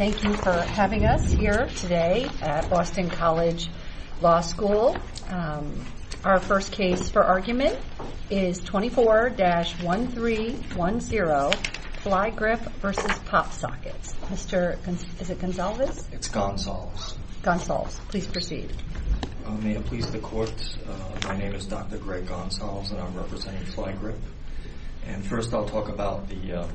Thank you for having us here today at Boston College Law School. Our first case for argument is 24-1310, Flygrip v. PopSockets. Mr. Gonsalves, please proceed. May it please the court, my name is Dr. Greg Gonsalves and I'm representing Flygrip. First I'll talk about the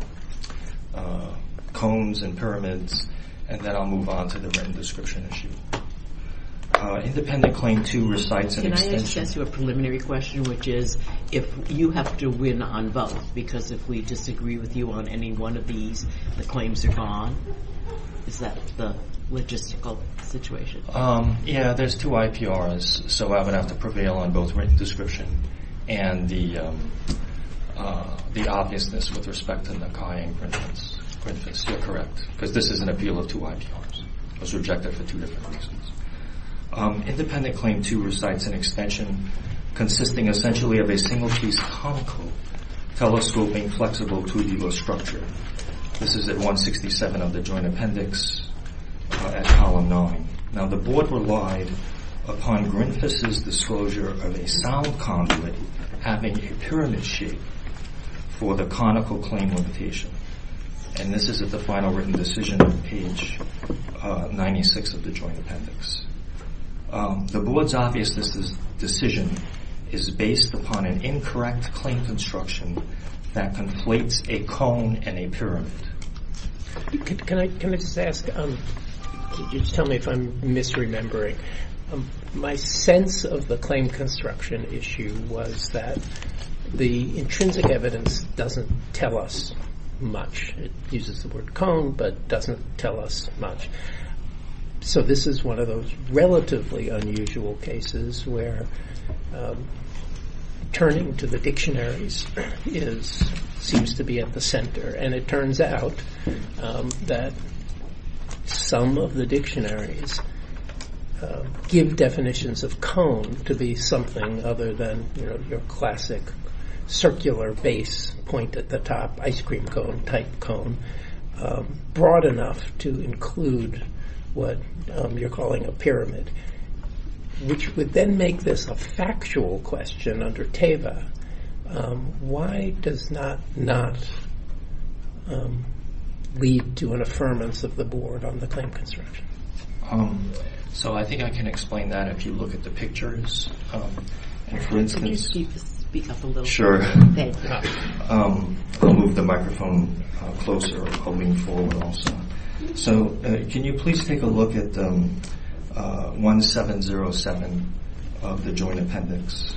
Combs and Pyramids and then I'll move on to the written description issue. Independent Claim 2 recites an extension. Can I ask you a preliminary question, which is, if you have to win on both, because if we disagree with you on any one of these, the claims are gone, is that the logistical situation? Yeah, there's two IPRs, so I would have to prevail on both written description and the obviousness with respect to Nakai and Grinfis. Grinfis, you're correct, because this is an appeal of two IPRs. It was rejected for two different reasons. Independent Claim 2 recites an extension consisting essentially of a single-case conical telescope being flexible to a diva structure. This is at 167 of the Joint Appendix at Column 9. Now the Board relied upon Grinfis' disclosure of a sound conduit having a pyramid shape for the conical claim limitation, and this is at the final written decision on page 96 of the Joint Appendix. The Board's obviousness decision is based upon an incorrect claim construction that conflates a cone and a pyramid. Can I just ask, just tell me if I'm misremembering, my sense of the claim construction issue was that the intrinsic evidence doesn't tell us much. It uses the word cone, but doesn't tell us much. So this is one of those relatively unusual cases where turning to the dictionaries seems to be at the center, and it turns out that some of the dictionaries give definitions of cone to be something other than your classic circular base point at the top, ice cream cone type cone, broad enough to include what you're calling a pyramid, which would then make this a factual question under TEVA. Why does that not lead to an affirmance of the Board on the claim construction? So I think I can explain that if you look at the pictures. Can you speak up a little bit? Sure. I'll move the microphone closer. So can you please take a look at 1707 of the appendix?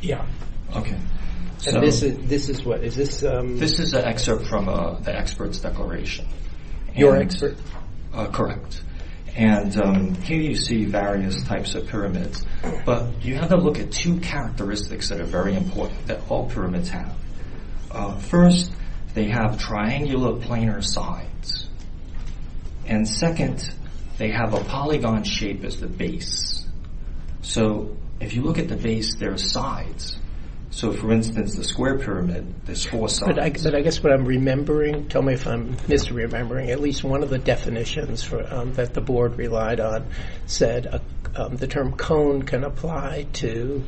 Yeah. This is what? This is an excerpt from the expert's declaration. Your excerpt? Correct. And here you see various types of pyramids, but you have to look at two characteristics that are very important that all pyramids have. First, they have triangular planar sides. And second, they have a polygon shape as the base. So if you look at the base, there are sides. So for instance, the square pyramid, there's four sides. But I guess what I'm remembering, tell me if I'm misremembering, at least one of the definitions that the Board relied on said the term cone can apply to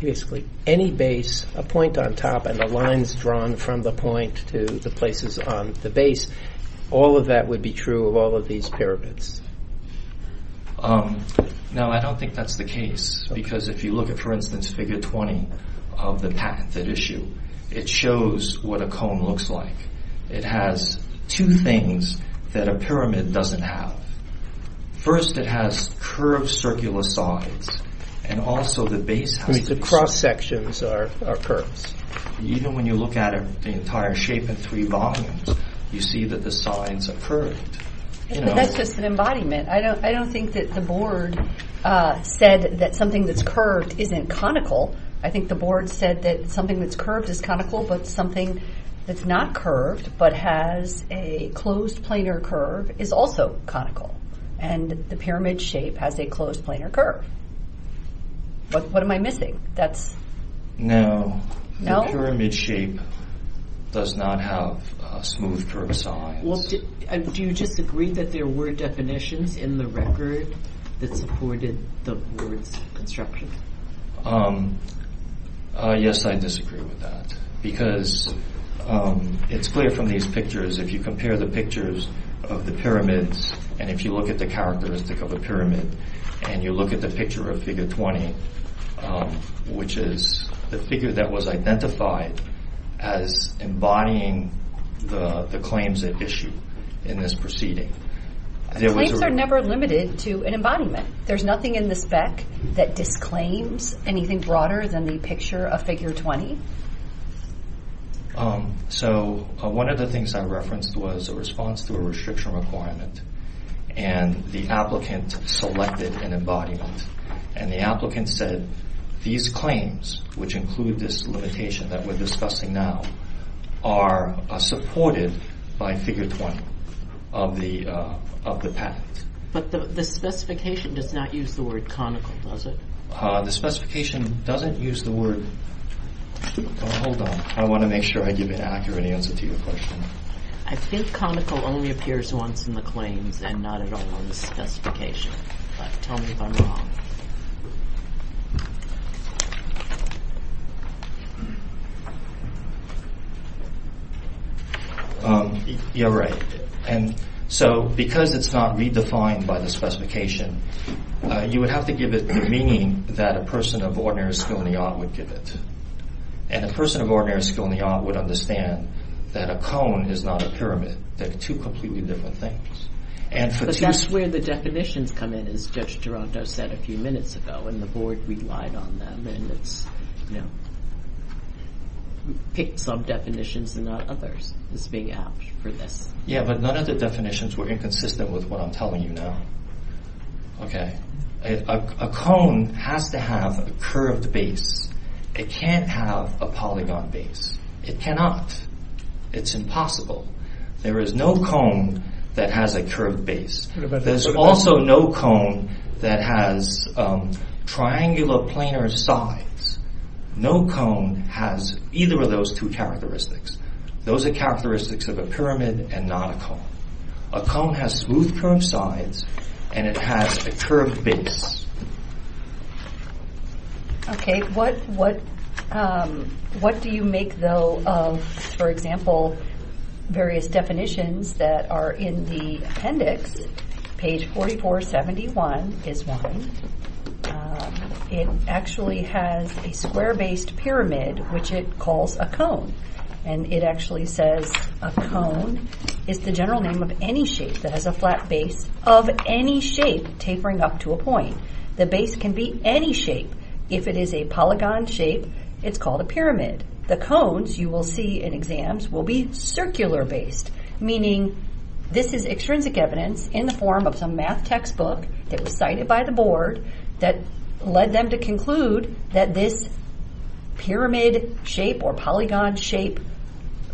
basically any base, a point on top, and the lines drawn from the point to the places on the base. All of that would be true of all of these pyramids. No, I don't think that's the case. Because if you look at, for instance, figure 20 of the patent that issue, it shows what a cone looks like. It has two things that a pyramid doesn't have. First, it has curved circular sides, and also the base has to be... The cross sections are curves. Even when you look at the entire shape in three volumes, you see that the sides are curved. But that's just an embodiment. I don't think that the Board said that something that's curved isn't conical. I think the Board said that something that's curved is conical, but something that's not curved but has a closed planar curve is also conical. And the pyramid shape has a closed planar curve. What am I missing? No, the pyramid shape does not have smooth curved sides. Do you disagree that there were definitions in the record that supported the Board's instructions? Yes, I disagree with that. Because it's clear from these pictures, if you compare the pictures of the pyramids, and if you look at the characteristic of a pyramid, and you look at the picture of figure 20, which is the figure that was identified as embodying the claims at issue in this proceeding... Claims are never limited to an embodiment. There's nothing in the spec that disclaims anything broader than the picture of figure 20? So, one of the things I referenced was a response to a restriction requirement, and the applicant selected an embodiment. And the applicant said, these claims, which include this limitation that we're discussing now, are supported by figure 20 of the patent. But the specification does not use the word conical, does it? The specification doesn't use the word... Hold on, I want to make sure I give an accurate answer to your question. I think conical only appears once in the claims, and not at all in the specification. But tell me if I'm wrong. You're right. And so, because it's not redefined by the specification, you would have to give it the meaning that a person of ordinary skill in the art would give it. And a person of ordinary skill in the art would understand that a cone is not a pyramid. They're two completely different things. But that's where the definitions come in, as Judge Duranto said a few minutes ago, and the board relied on them. And it's, you know, picked some definitions and not others, as being apt for this. Yeah, but none of the definitions were inconsistent with what I'm telling you now. Okay. A cone has to have a curved base. It can't have a polygon base. It cannot. It's impossible. There is no cone that has a curved base. There's also no cone that has triangular planar sides. No cone has either of those two characteristics. Those are characteristics of a pyramid and not a cone. A cone has smooth curved sides, and it has a curved base. Okay. What do you make, though, of, for example, various definitions that are in the appendix? Page 4471 is one. It actually has a square-based pyramid, which it calls a cone. And it actually says a cone is the general name of any shape that has a flat base of any shape tapering up to a point. The base can be any shape. If it is a polygon shape, it's called a pyramid. The cones, you will see in exams, will be circular-based, meaning this is extrinsic evidence in the form of some math textbook that was cited by the board that led them to conclude that this pyramid shape or polygon shape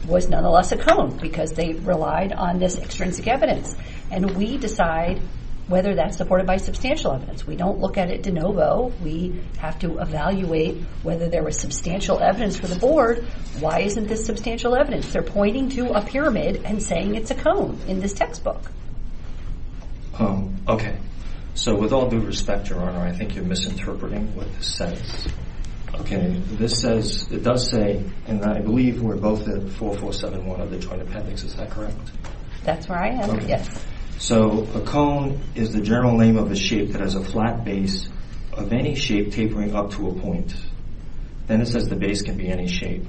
was nonetheless a cone because they relied on this extrinsic evidence. And we decide whether that's supported by substantial evidence. We don't look at it de novo. We have to evaluate whether there was substantial evidence for the board. Why isn't this substantial evidence? They're pointing to a pyramid and saying it's a cone in this textbook. Okay. So with all due respect, Your Honor, I think you're misinterpreting what this says. Okay. This says, it does say, and I believe we're both at 4471 of the joint appendix. Is that correct? That's where I am. Yes. So a cone is the general name of a shape that has a flat base of any shape tapering up to a point. Then it says the base can be any shape.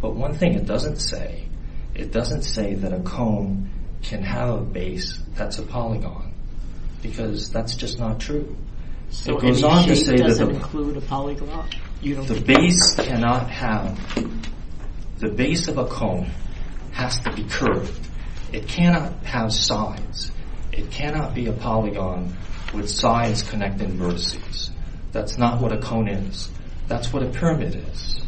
But one thing it doesn't say, it doesn't say that a cone can have a base that's a polygon because that's just not true. So any shape doesn't include a polygon? The base cannot have, the base of a cone has to be curved. It cannot have sides. It cannot be a polygon with sides connecting vertices. That's not what a cone is. That's what a pyramid is.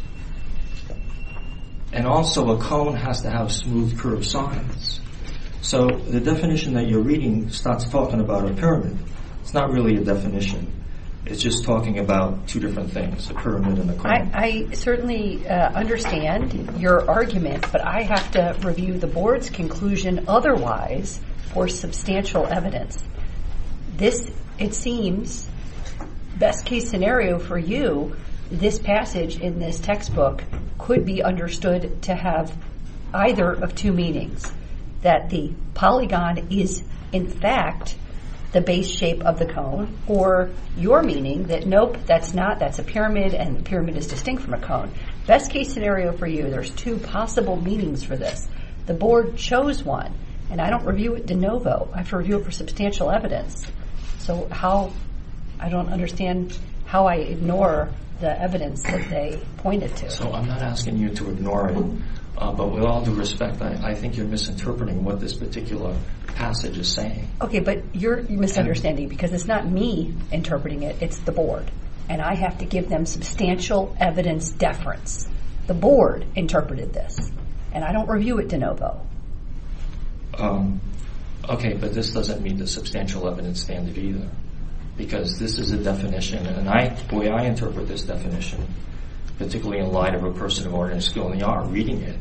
And also a cone has to have smooth curved sides. So the definition that you're reading starts talking about a pyramid. It's not really a definition. It's just talking about two different things, a pyramid and a cone. I certainly understand your argument, but I have to review the board's conclusion otherwise for substantial evidence. This, it seems, best case scenario for you, this passage in this textbook could be understood to have either of two meanings. That the polygon is in fact the base shape of the cone. Or your meaning that nope, that's not, that's a pyramid and a pyramid is distinct from a cone. Best case scenario for you, there's two possible meanings for this. The board chose one and I don't review it de novo. I have to review it for substantial evidence. So how, I don't understand how I ignore the evidence that they pointed to. So I'm not asking you to ignore it, but with all due respect, I think you're misinterpreting what this particular passage is saying. Okay, but you're misunderstanding because it's not me interpreting it, it's the board. And I have to give them substantial evidence deference. The board interpreted this. And I don't review it de novo. Okay, but this doesn't meet the substantial evidence standard either. Because this is a definition, and the way I interpret this definition, particularly in light of a person of ordinary skill in the art of reading it,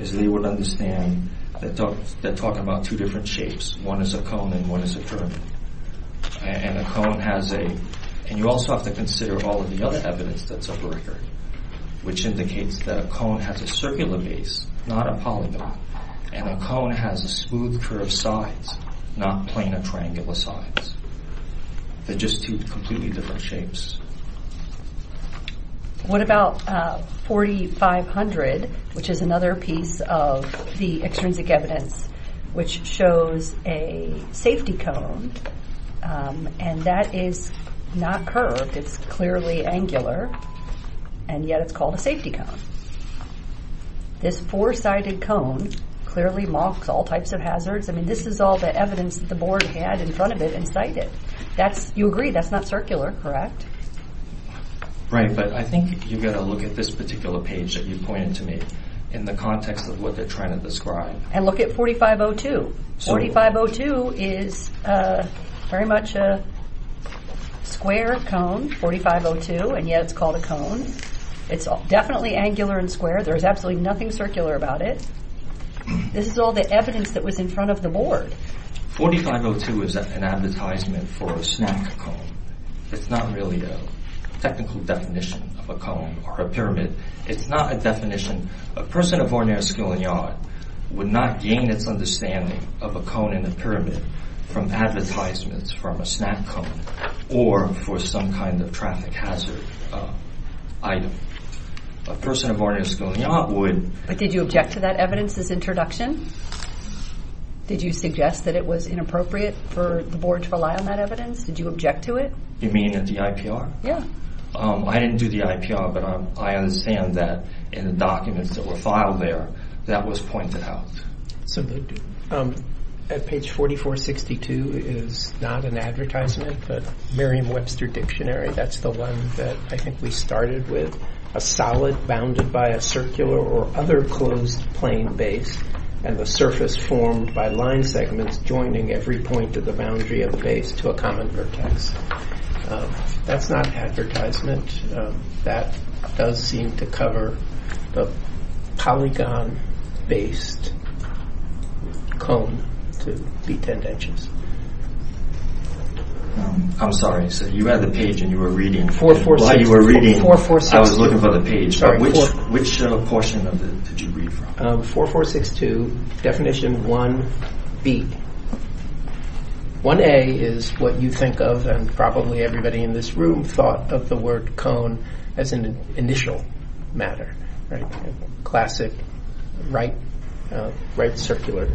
is they would understand that they're talking about two different shapes. One is a cone and one is a pyramid. And a cone has a, and you also have to consider all of the other evidence that's over record, which indicates that a cone has a circular base, not a polygon. And a cone has a smooth curve sides, not plain or triangular sides. They're just two completely different shapes. What about 4500, which is another piece of the extrinsic evidence, which shows a safety cone, and that is not curved, it's clearly angular, and yet it's called a safety cone. This four-sided cone clearly mocks all types of hazards. I mean, this is all the evidence that the board had in front of it and cited. That's, you agree, that's not circular, correct? Right, but I think you've got to look at this particular page that you pointed to me in the context of what they're trying to describe. And look at 4502. 4502 is very much a square cone, 4502, and yet it's called a cone. It's definitely angular and square. There's absolutely nothing circular about it. This is all the evidence that was in front of the board. 4502 is an advertisement for a snack cone. It's not really a technical definition of a cone or a pyramid. It's not a definition. A person of ordinary skill and yacht would not gain its understanding of a cone and a pyramid from advertisements from a snack cone or for some kind of traffic hazard item. A person of ordinary skill and yacht would. But did you object to that evidence's introduction? Did you suggest that it was inappropriate for the board to rely on that evidence? Did you object to it? You mean at the IPR? Yeah. I didn't do the IPR, but I understand that in the documents that were filed there that was pointed out. Absolutely. At page 4462 is not an advertisement, but Merriam-Webster Dictionary, that's the one that I think we started with. A solid bounded by a circular or other closed plane base and the surface formed by line segments joining every point of the boundary of the common vertex. That's not advertisement. That does seem to cover the polygon-based cone to be 10 inches. I'm sorry. You had the page and you were reading. 4462. I was looking for the page. Which portion did you read from? 4462, definition 1B. 1A is what you think of and probably everybody in this room thought of the word cone as an initial matter, classic right circular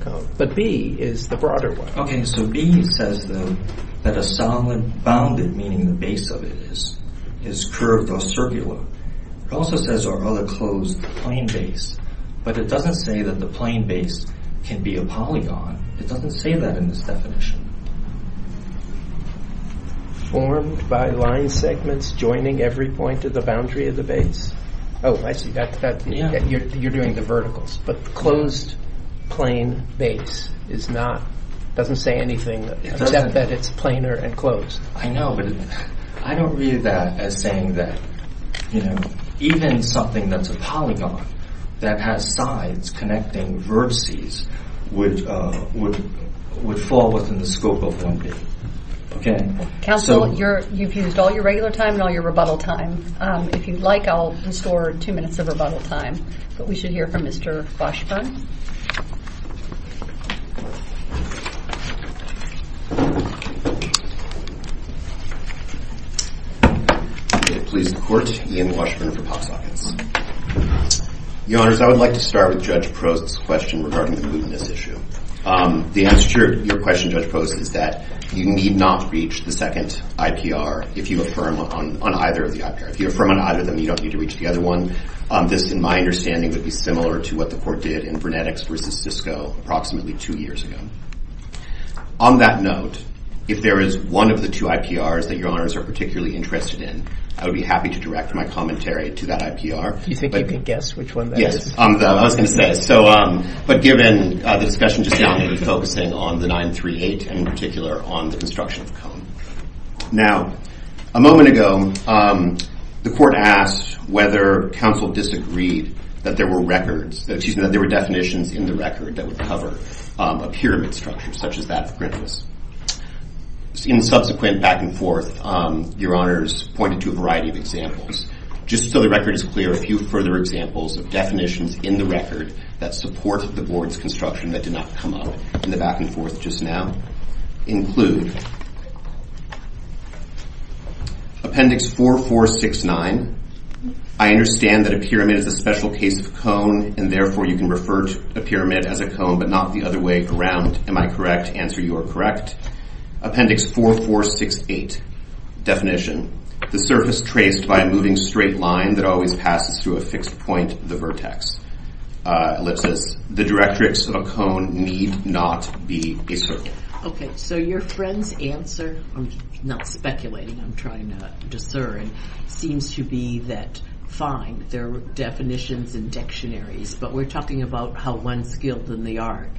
cone. But B is the broader one. Okay, so B says that a solid bounded, meaning the base of it, is curved or circular. It also says or other closed plane base. But it doesn't say that the plane base can be a polygon. It doesn't say that in this definition. Formed by line segments joining every point of the boundary of the base. Oh, I see. You're doing the verticals. But closed plane base is not, doesn't say anything except that it's planar and closed. I know, but I don't read that as saying that even something that's a polygon that has sides connecting vertices would fall within the scope of 1B. Counsel, you've used all your regular time and all your rebuttal time. If you'd like I'll restore two minutes of rebuttal time. But we should hear from Mr. Foshburn. May it please the court, Ian Washburn for PopSockets. Your honors, I would like to start with Judge Prost's question regarding the Putinist issue. The answer to your question, Judge Prost, is that you need not reach the second IPR if you affirm on either of the IPR. If you affirm on either of them, you don't need to reach the other one. This, in my understanding, would be similar to what the court did in genetics versus Cisco approximately two years ago. On that note, if there is one of the two IPRs that your honors are particularly interested in, I would be happy to direct my commentary to that IPR. Do you think you can guess which one that is? Yes, I was going to say. But given the discussion just now, we were focusing on the 938 and in particular on the construction of Cone. Now, a moment ago, the court asked whether counsel disagreed that there were definitions in the record that would cover a pyramid structure such as that of Grinnell's. In the subsequent back and forth, your honors pointed to a variety of examples. Just so the record is clear, a few further examples of definitions in the record that support the board's construction that did not come up in the back and forth just now include Appendix 4469. I understand that the board understands that a pyramid is a special case of cone and therefore you can refer to a pyramid as a cone but not the other way around. Am I correct? Answer, you are correct. Appendix 4468, definition. The surface traced by a moving straight line that always passes through a fixed point, the vertex. Ellipsis. The directrix of a cone need not be a circle. Okay, so your friend's answer, I'm not speculating, I'm trying to discern, seems to be that fine, there are definitions and dictionaries but we're talking about how one skilled in the art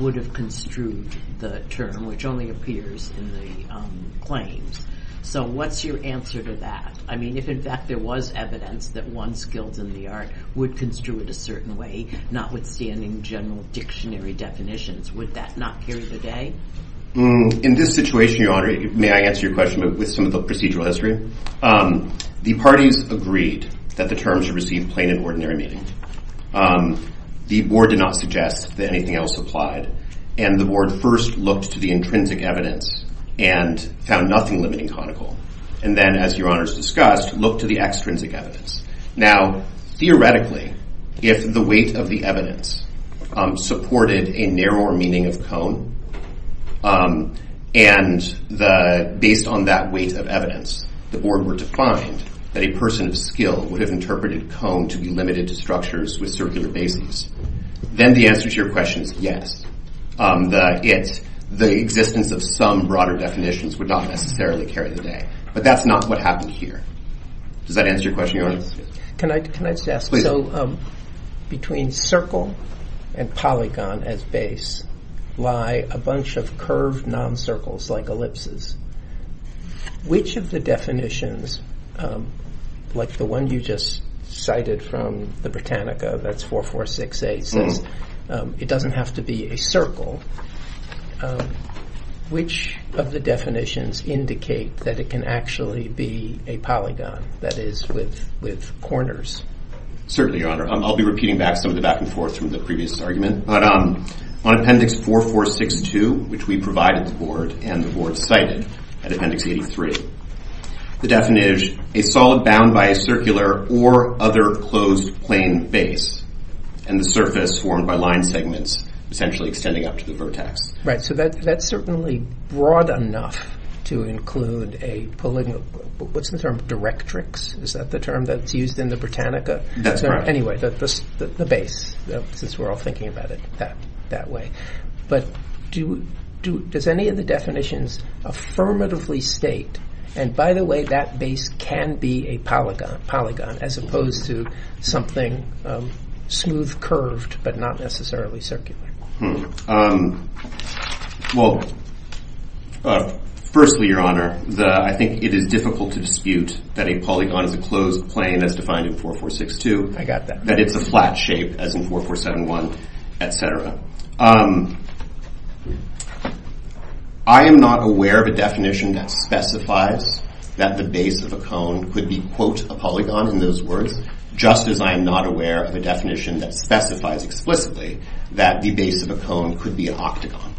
would have construed the term which only appears in the claims. So what's your answer to that? I mean, if in fact there was evidence that one skilled in the art would construe it a certain way, notwithstanding general dictionary definitions, would that not carry the day? In this situation, Your Honor, may I answer your question with some of the procedural history? The parties agreed that the terms received plain and ordinary meaning. The board did not suggest that anything else applied and the board first looked to the intrinsic evidence and found nothing limiting conical. And then, as Your Honor's discussed, looked to the extrinsic evidence. Now, theoretically, if the weight of the evidence supported a narrower meaning of cone, and based on that weight of evidence, the board were to find that a person of skill would have interpreted cone to be limited to structures with circular bases. Then the answer to your question is yes. The existence of some broader definitions would not necessarily carry the day. But that's not what happened here. Does that answer your question, Your Honor? Can I just ask, so between circle and polygon as base lie a bunch of curved non-circles like ellipses. Which of the definitions, like the one you just cited from the Britannica, that's 4-4-6-8, says it doesn't have to be a circle. Which of the definitions indicate that it can actually be a polygon, that is, with corners? Certainly, Your Honor. I'll be repeating back some of the back and forth from the previous argument. But on Appendix 4-4-6-2, which we provided the board and the board cited at Appendix 83, the definition is a solid bound by a circular or other closed plane base and the surface formed by line segments essentially extending up to the vertex. Right, so that's certainly broad enough to include a polygon. What's the term, directrix? Is that the term that's used in the Britannica? That's right. Anyway, the base, since we're all thinking about it that way. But does any of the definitions affirmatively state, and by the way, that base can be a polygon as opposed to something smooth, curved, but not necessarily circular? Well, firstly, Your Honor, I think it is difficult to dispute that a polygon is a closed plane as defined in 4-4-6-2. I got that. That it's a flat shape, as in 4-4-7-1, etc. I am not aware of a definition that specifies that the base of a cone could be, quote, a polygon, in those words, just as I am not aware of a definition that specifies explicitly that the base of a cone could be an octagon.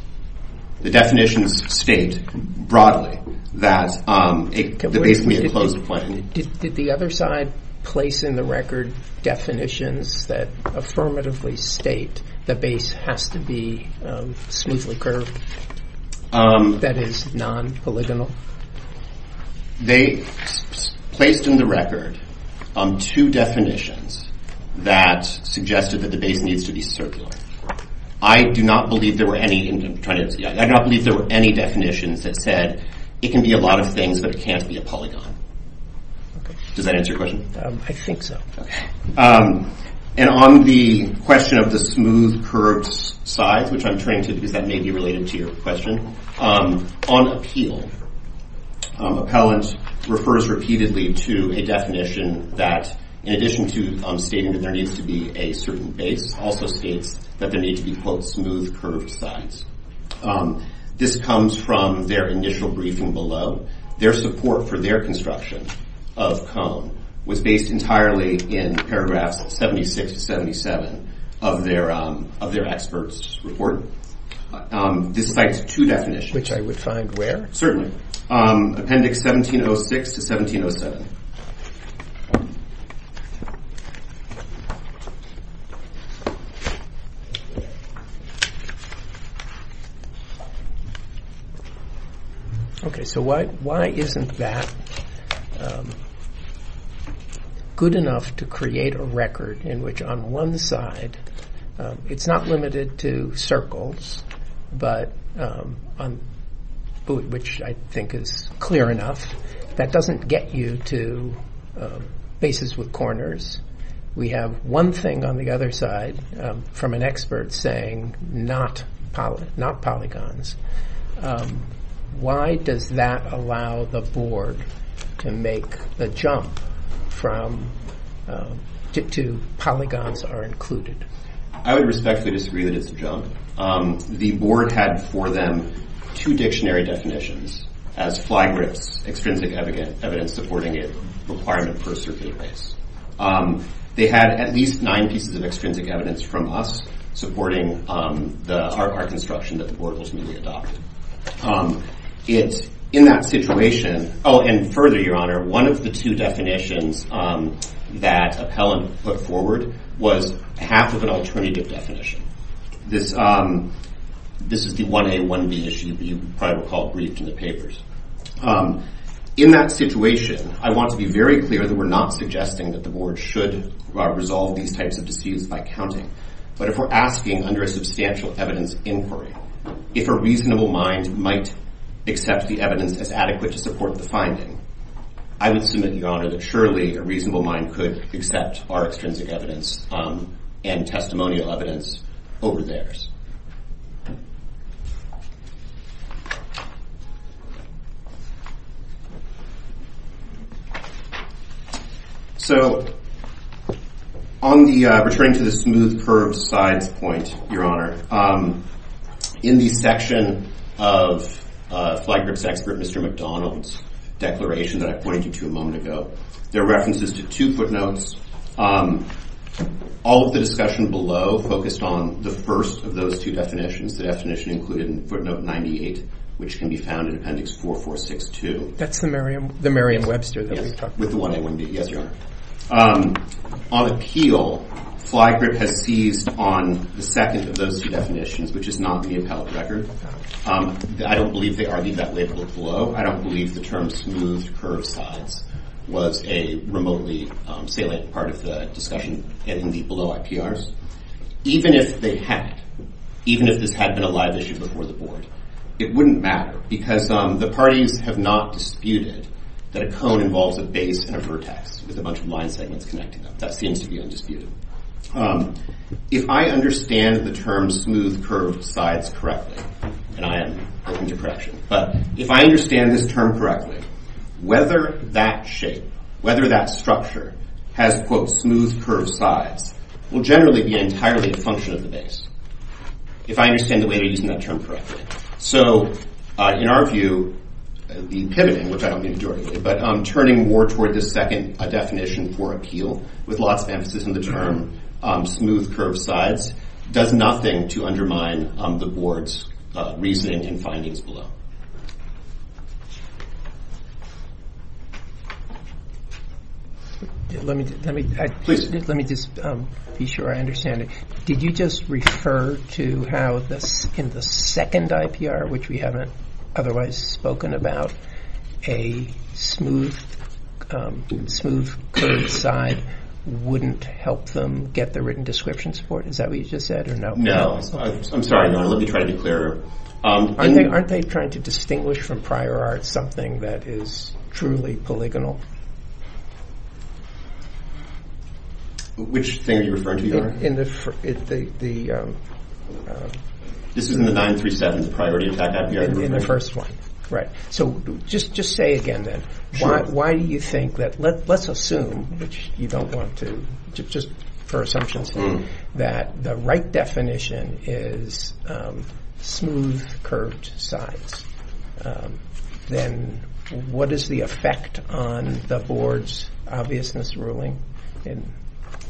The definitions state broadly that the base can be a closed plane. Did the other side place in the record definitions that affirmatively state the base has to be smoothly curved, that is, non-polygonal? They placed in the record two definitions that suggested that the base needs to be circular. I do not believe there were any definitions that said it can be a lot of things, but it can't be a polygon. Does that answer your question? I think so. And on the question of the smooth, curved sides, which I'm turning to because that may be related to your question, on appeal, appellant refers repeatedly to a definition that, in addition to stating that there needs to be a certain base, also states that there needs to be, quote, smooth, curved sides. This comes from their initial briefing below. Their support for their construction of cone was based entirely in paragraphs 76 to 77 of their expert's report. This cites two definitions. Which I would find where? Certainly. Appendix 1706 to 1707. Okay, so why isn't that good enough to create a record in which on one side, it's not limited to circles, which I think is clear enough, that doesn't get you to bases with corners. We have one thing on the other side from an expert saying not polygons. Why does that allow the board to make the jump to polygons are included? I would respectfully disagree that it's a jump. The board had for them two dictionary definitions as flag grips, extrinsic evidence supporting a requirement for a circuited base. They had at least nine pieces of extrinsic evidence from us supporting the hard part construction that the board ultimately adopted. In that situation, oh, and further, your honor, one of the two definitions that appellant put forward was half of an alternative definition. This is the 1A, 1B issue that you probably recalled briefed in the papers. In that situation, I want to be very clear that we're not suggesting that the board should resolve these types of disputes by counting. But if we're asking under a substantial evidence inquiry, if a reasonable mind might accept the evidence as adequate to support the finding, I would submit, your honor, that only a reasonable mind could accept our extrinsic evidence and testimonial evidence over theirs. So, on the returning to the smooth curved sides point, your honor, in the section of flag grips expert, Mr. McDonald's declaration that I pointed you to a moment ago, there are references to two footnotes. All of the discussion below focused on the first of those two definitions. The definition included in footnote 98, which can be found in appendix 4462. That's the Merriam-Webster that we talked about. With the 1A, 1B, yes, your honor. On appeal, flag grip has seized on the second of those two definitions, which is not the appellate record. I don't believe they are. Leave that label below. I don't believe the term smooth curved sides was a remotely salient part of the discussion in the below IPRs. Even if they had, even if this had been a live issue before the board, it wouldn't matter because the parties have not disputed that a cone involves a base and a vertex with a bunch of line segments connecting them. That seems to be undisputed. If I understand the term smooth curved sides correctly, and I am open to correction, but if I understand this term correctly, whether that shape, whether that structure has, quote, smooth curved sides will generally be entirely a function of the base. If I understand the way they are using that term correctly. In our view, the pivoting, which I don't mean directly, but turning more toward the second definition for appeal with lots of emphasis on the term smooth curved sides does nothing to undermine the board's reasoning and findings below. Let me just be sure I understand it. Did you just refer to how in the second IPR, which we haven't otherwise spoken about, a smooth curved side wouldn't help them get the written description support? Is that what you just said or no? I'm sorry. Let me try to be clearer. Aren't they trying to distinguish from prior art something that is truly polygonal? Which thing are you referring to? This is in the 937, the priority attack IPR. In the first one. Right. So just say again then, why do you think that, let's assume, which you don't want to, just for assumptions here, that the right definition is smooth curved sides. Then what is the effect on the board's obviousness ruling?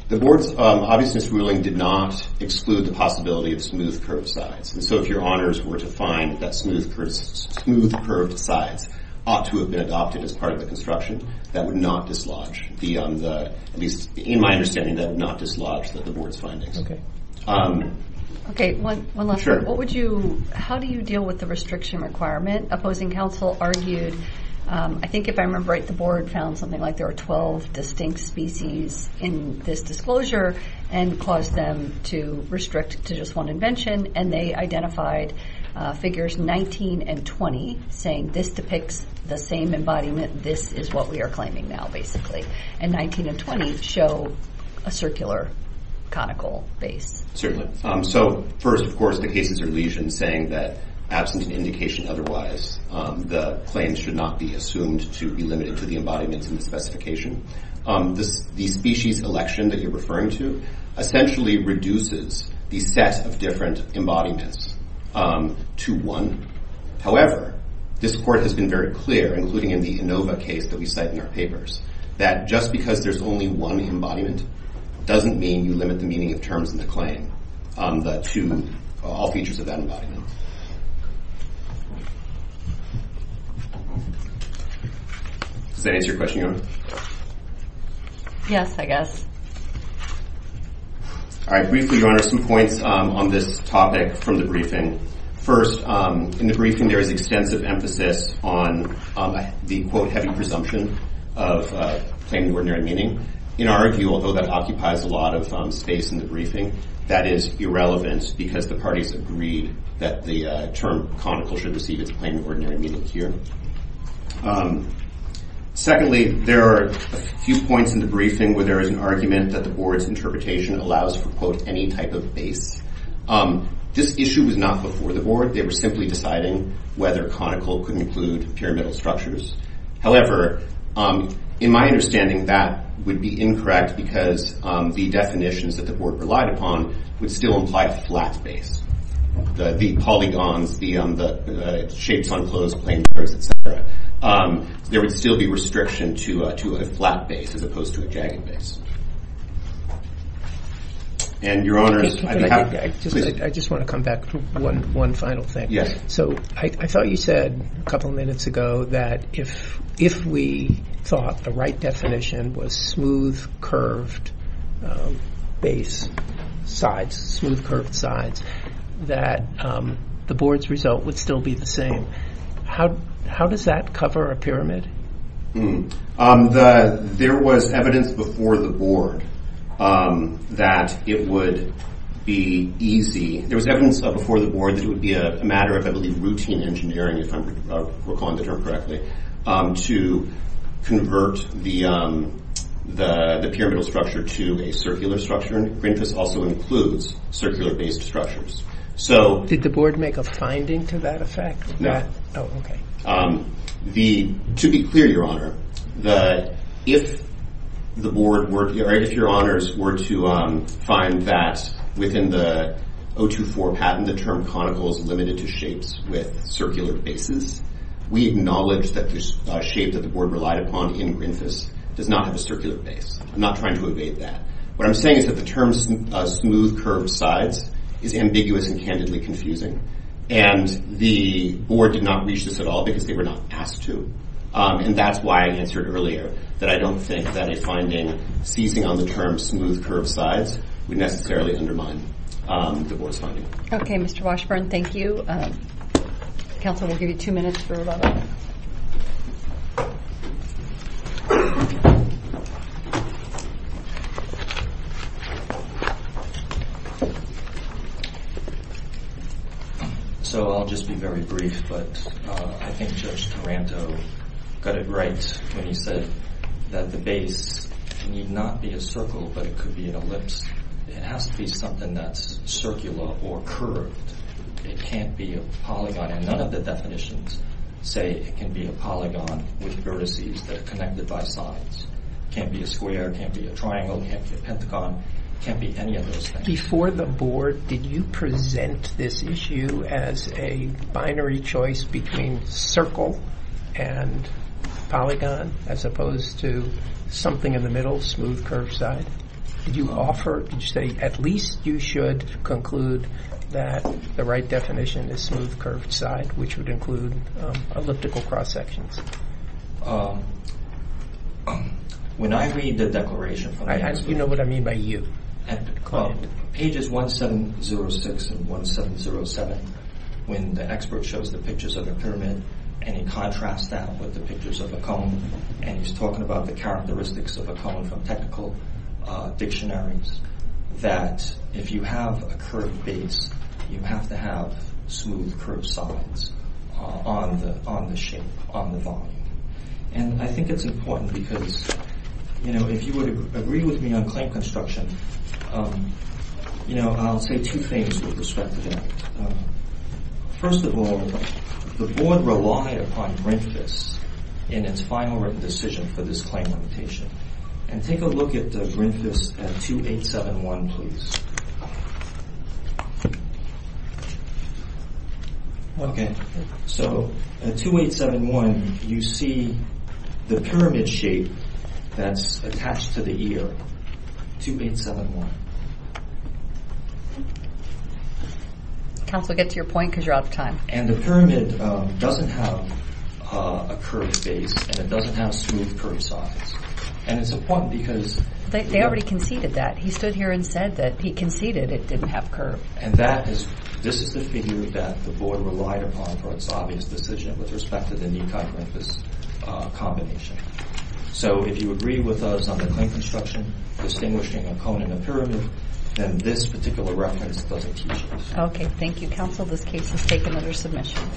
The board's obviousness ruling did not exclude the possibility of smooth curved sides. And so if your honors were to find that smooth curved sides ought to have been adopted as part of the construction, that would not dislodge, at least in my understanding, that would not dislodge the board's findings. One last one. Sure. How do you deal with the restriction requirement? Opposing counsel argued, I think if I remember right, the board found something like there were 12 distinct species in this disclosure and caused them to restrict to just one invention. And they identified figures 19 and 20, saying this depicts the same embodiment. This is what we are claiming now, basically. And 19 and 20 show a circular conical base. So first, of course, the cases are lesioned, saying that absent an indication otherwise, the claims should not be assumed to be limited to the embodiments in the specification. The species election that you're referring to essentially reduces the set of different embodiments to one. However, this court has been very clear, including in the Inova case that we cite in our papers, that just because there's only one embodiment doesn't mean you limit the meaning of terms in the claim to all features of that embodiment. Does that answer your question, Your Honor? Yes, I guess. All right. Briefly, Your Honor, some points on this topic from the briefing. First, in the briefing, there is extensive emphasis on the, quote, heavy presumption of plain and ordinary meaning. In our view, although that occupies a lot of space in the briefing, that is irrelevant because the parties agreed that the term conical should receive its plain and ordinary meaning here. Secondly, there are a few points in the briefing where there is an argument that the Board's interpretation allows for, quote, any type of base. This issue was not before the Board. They were simply deciding whether conical could include pyramidal structures. However, in my understanding, that would be incorrect because the definitions that the flat base, the polygons, the shapes on clothes, plain clothes, et cetera, there would still be restriction to a flat base as opposed to a jagged base. And Your Honors, I'd be happy to, please. I just want to come back to one final thing. Yes. So I thought you said a couple of minutes ago that if we thought the right definition was smooth curved base sides, smooth curved sides, that the Board's result would still be the same. How does that cover a pyramid? There was evidence before the Board that it would be easy. There was evidence before the Board that it would be a matter of, I believe, routine engineering, if I'm recalling the term correctly, to convert the pyramidal structure to a circular structure. And Greenfuss also includes circular based structures. Did the Board make a finding to that effect? Oh, okay. To be clear, Your Honor, if Your Honors were to find that within the 024 patent, when the term conical is limited to shapes with circular bases, we acknowledge that the shape that the Board relied upon in Greenfuss does not have a circular base. I'm not trying to evade that. What I'm saying is that the term smooth curved sides is ambiguous and candidly confusing. And the Board did not reach this at all because they were not asked to. And that's why I answered earlier that I don't think that a finding seizing on the term smooth curved sides would necessarily undermine the Board's finding. Okay, Mr. Washburn, thank you. Counsel will give you two minutes for rebuttal. So I'll just be very brief, but I think Judge Taranto got it right when he said that the base need not be a circle, but it could be an ellipse. It has to be something that's circular or curved. It can't be a polygon. And none of the definitions say it can be a polygon with vertices that are connected by sides. It can't be a square. It can't be a triangle. It can't be a pentagon. It can't be any of those things. Before the Board, did you present this issue as a binary choice between circle and polygon, as opposed to something in the middle, smooth curved side? Did you offer, did you say at least you should conclude that the right definition is smooth curved side, which would include elliptical cross sections? When I read the declaration from the expert... You know what I mean by you. Pages 1706 and 1707, when the expert shows the pictures of a pyramid and he contrasts that with the pictures of a cone, and he's talking about the characteristics of a cone from technical dictionaries, that if you have a curved base, you have to have smooth curved sides on the shape, on the volume. And I think it's important because, you know, if you would agree with me on claim construction, you know, I'll say two things with respect to that. First of all, the Board relied upon Grinfis in its final written decision for this claim limitation. And take a look at Grinfis at 2871, please. Okay, so at 2871, you see the pyramid shape that's attached to the ear, 2871. And the pyramid doesn't have a curved base, and it doesn't have smooth curved sides. And it's important because... They already conceded that. He stood here and said that he conceded it didn't have curve. And this is the figure that the Board relied upon for its obvious decision with respect to the Nikai-Grinfis combination. So if you agree with us on the claim construction, distinguishing a cone and a pyramid, then this particular reference doesn't teach us. Okay, thank you, counsel. This case is taken under submission.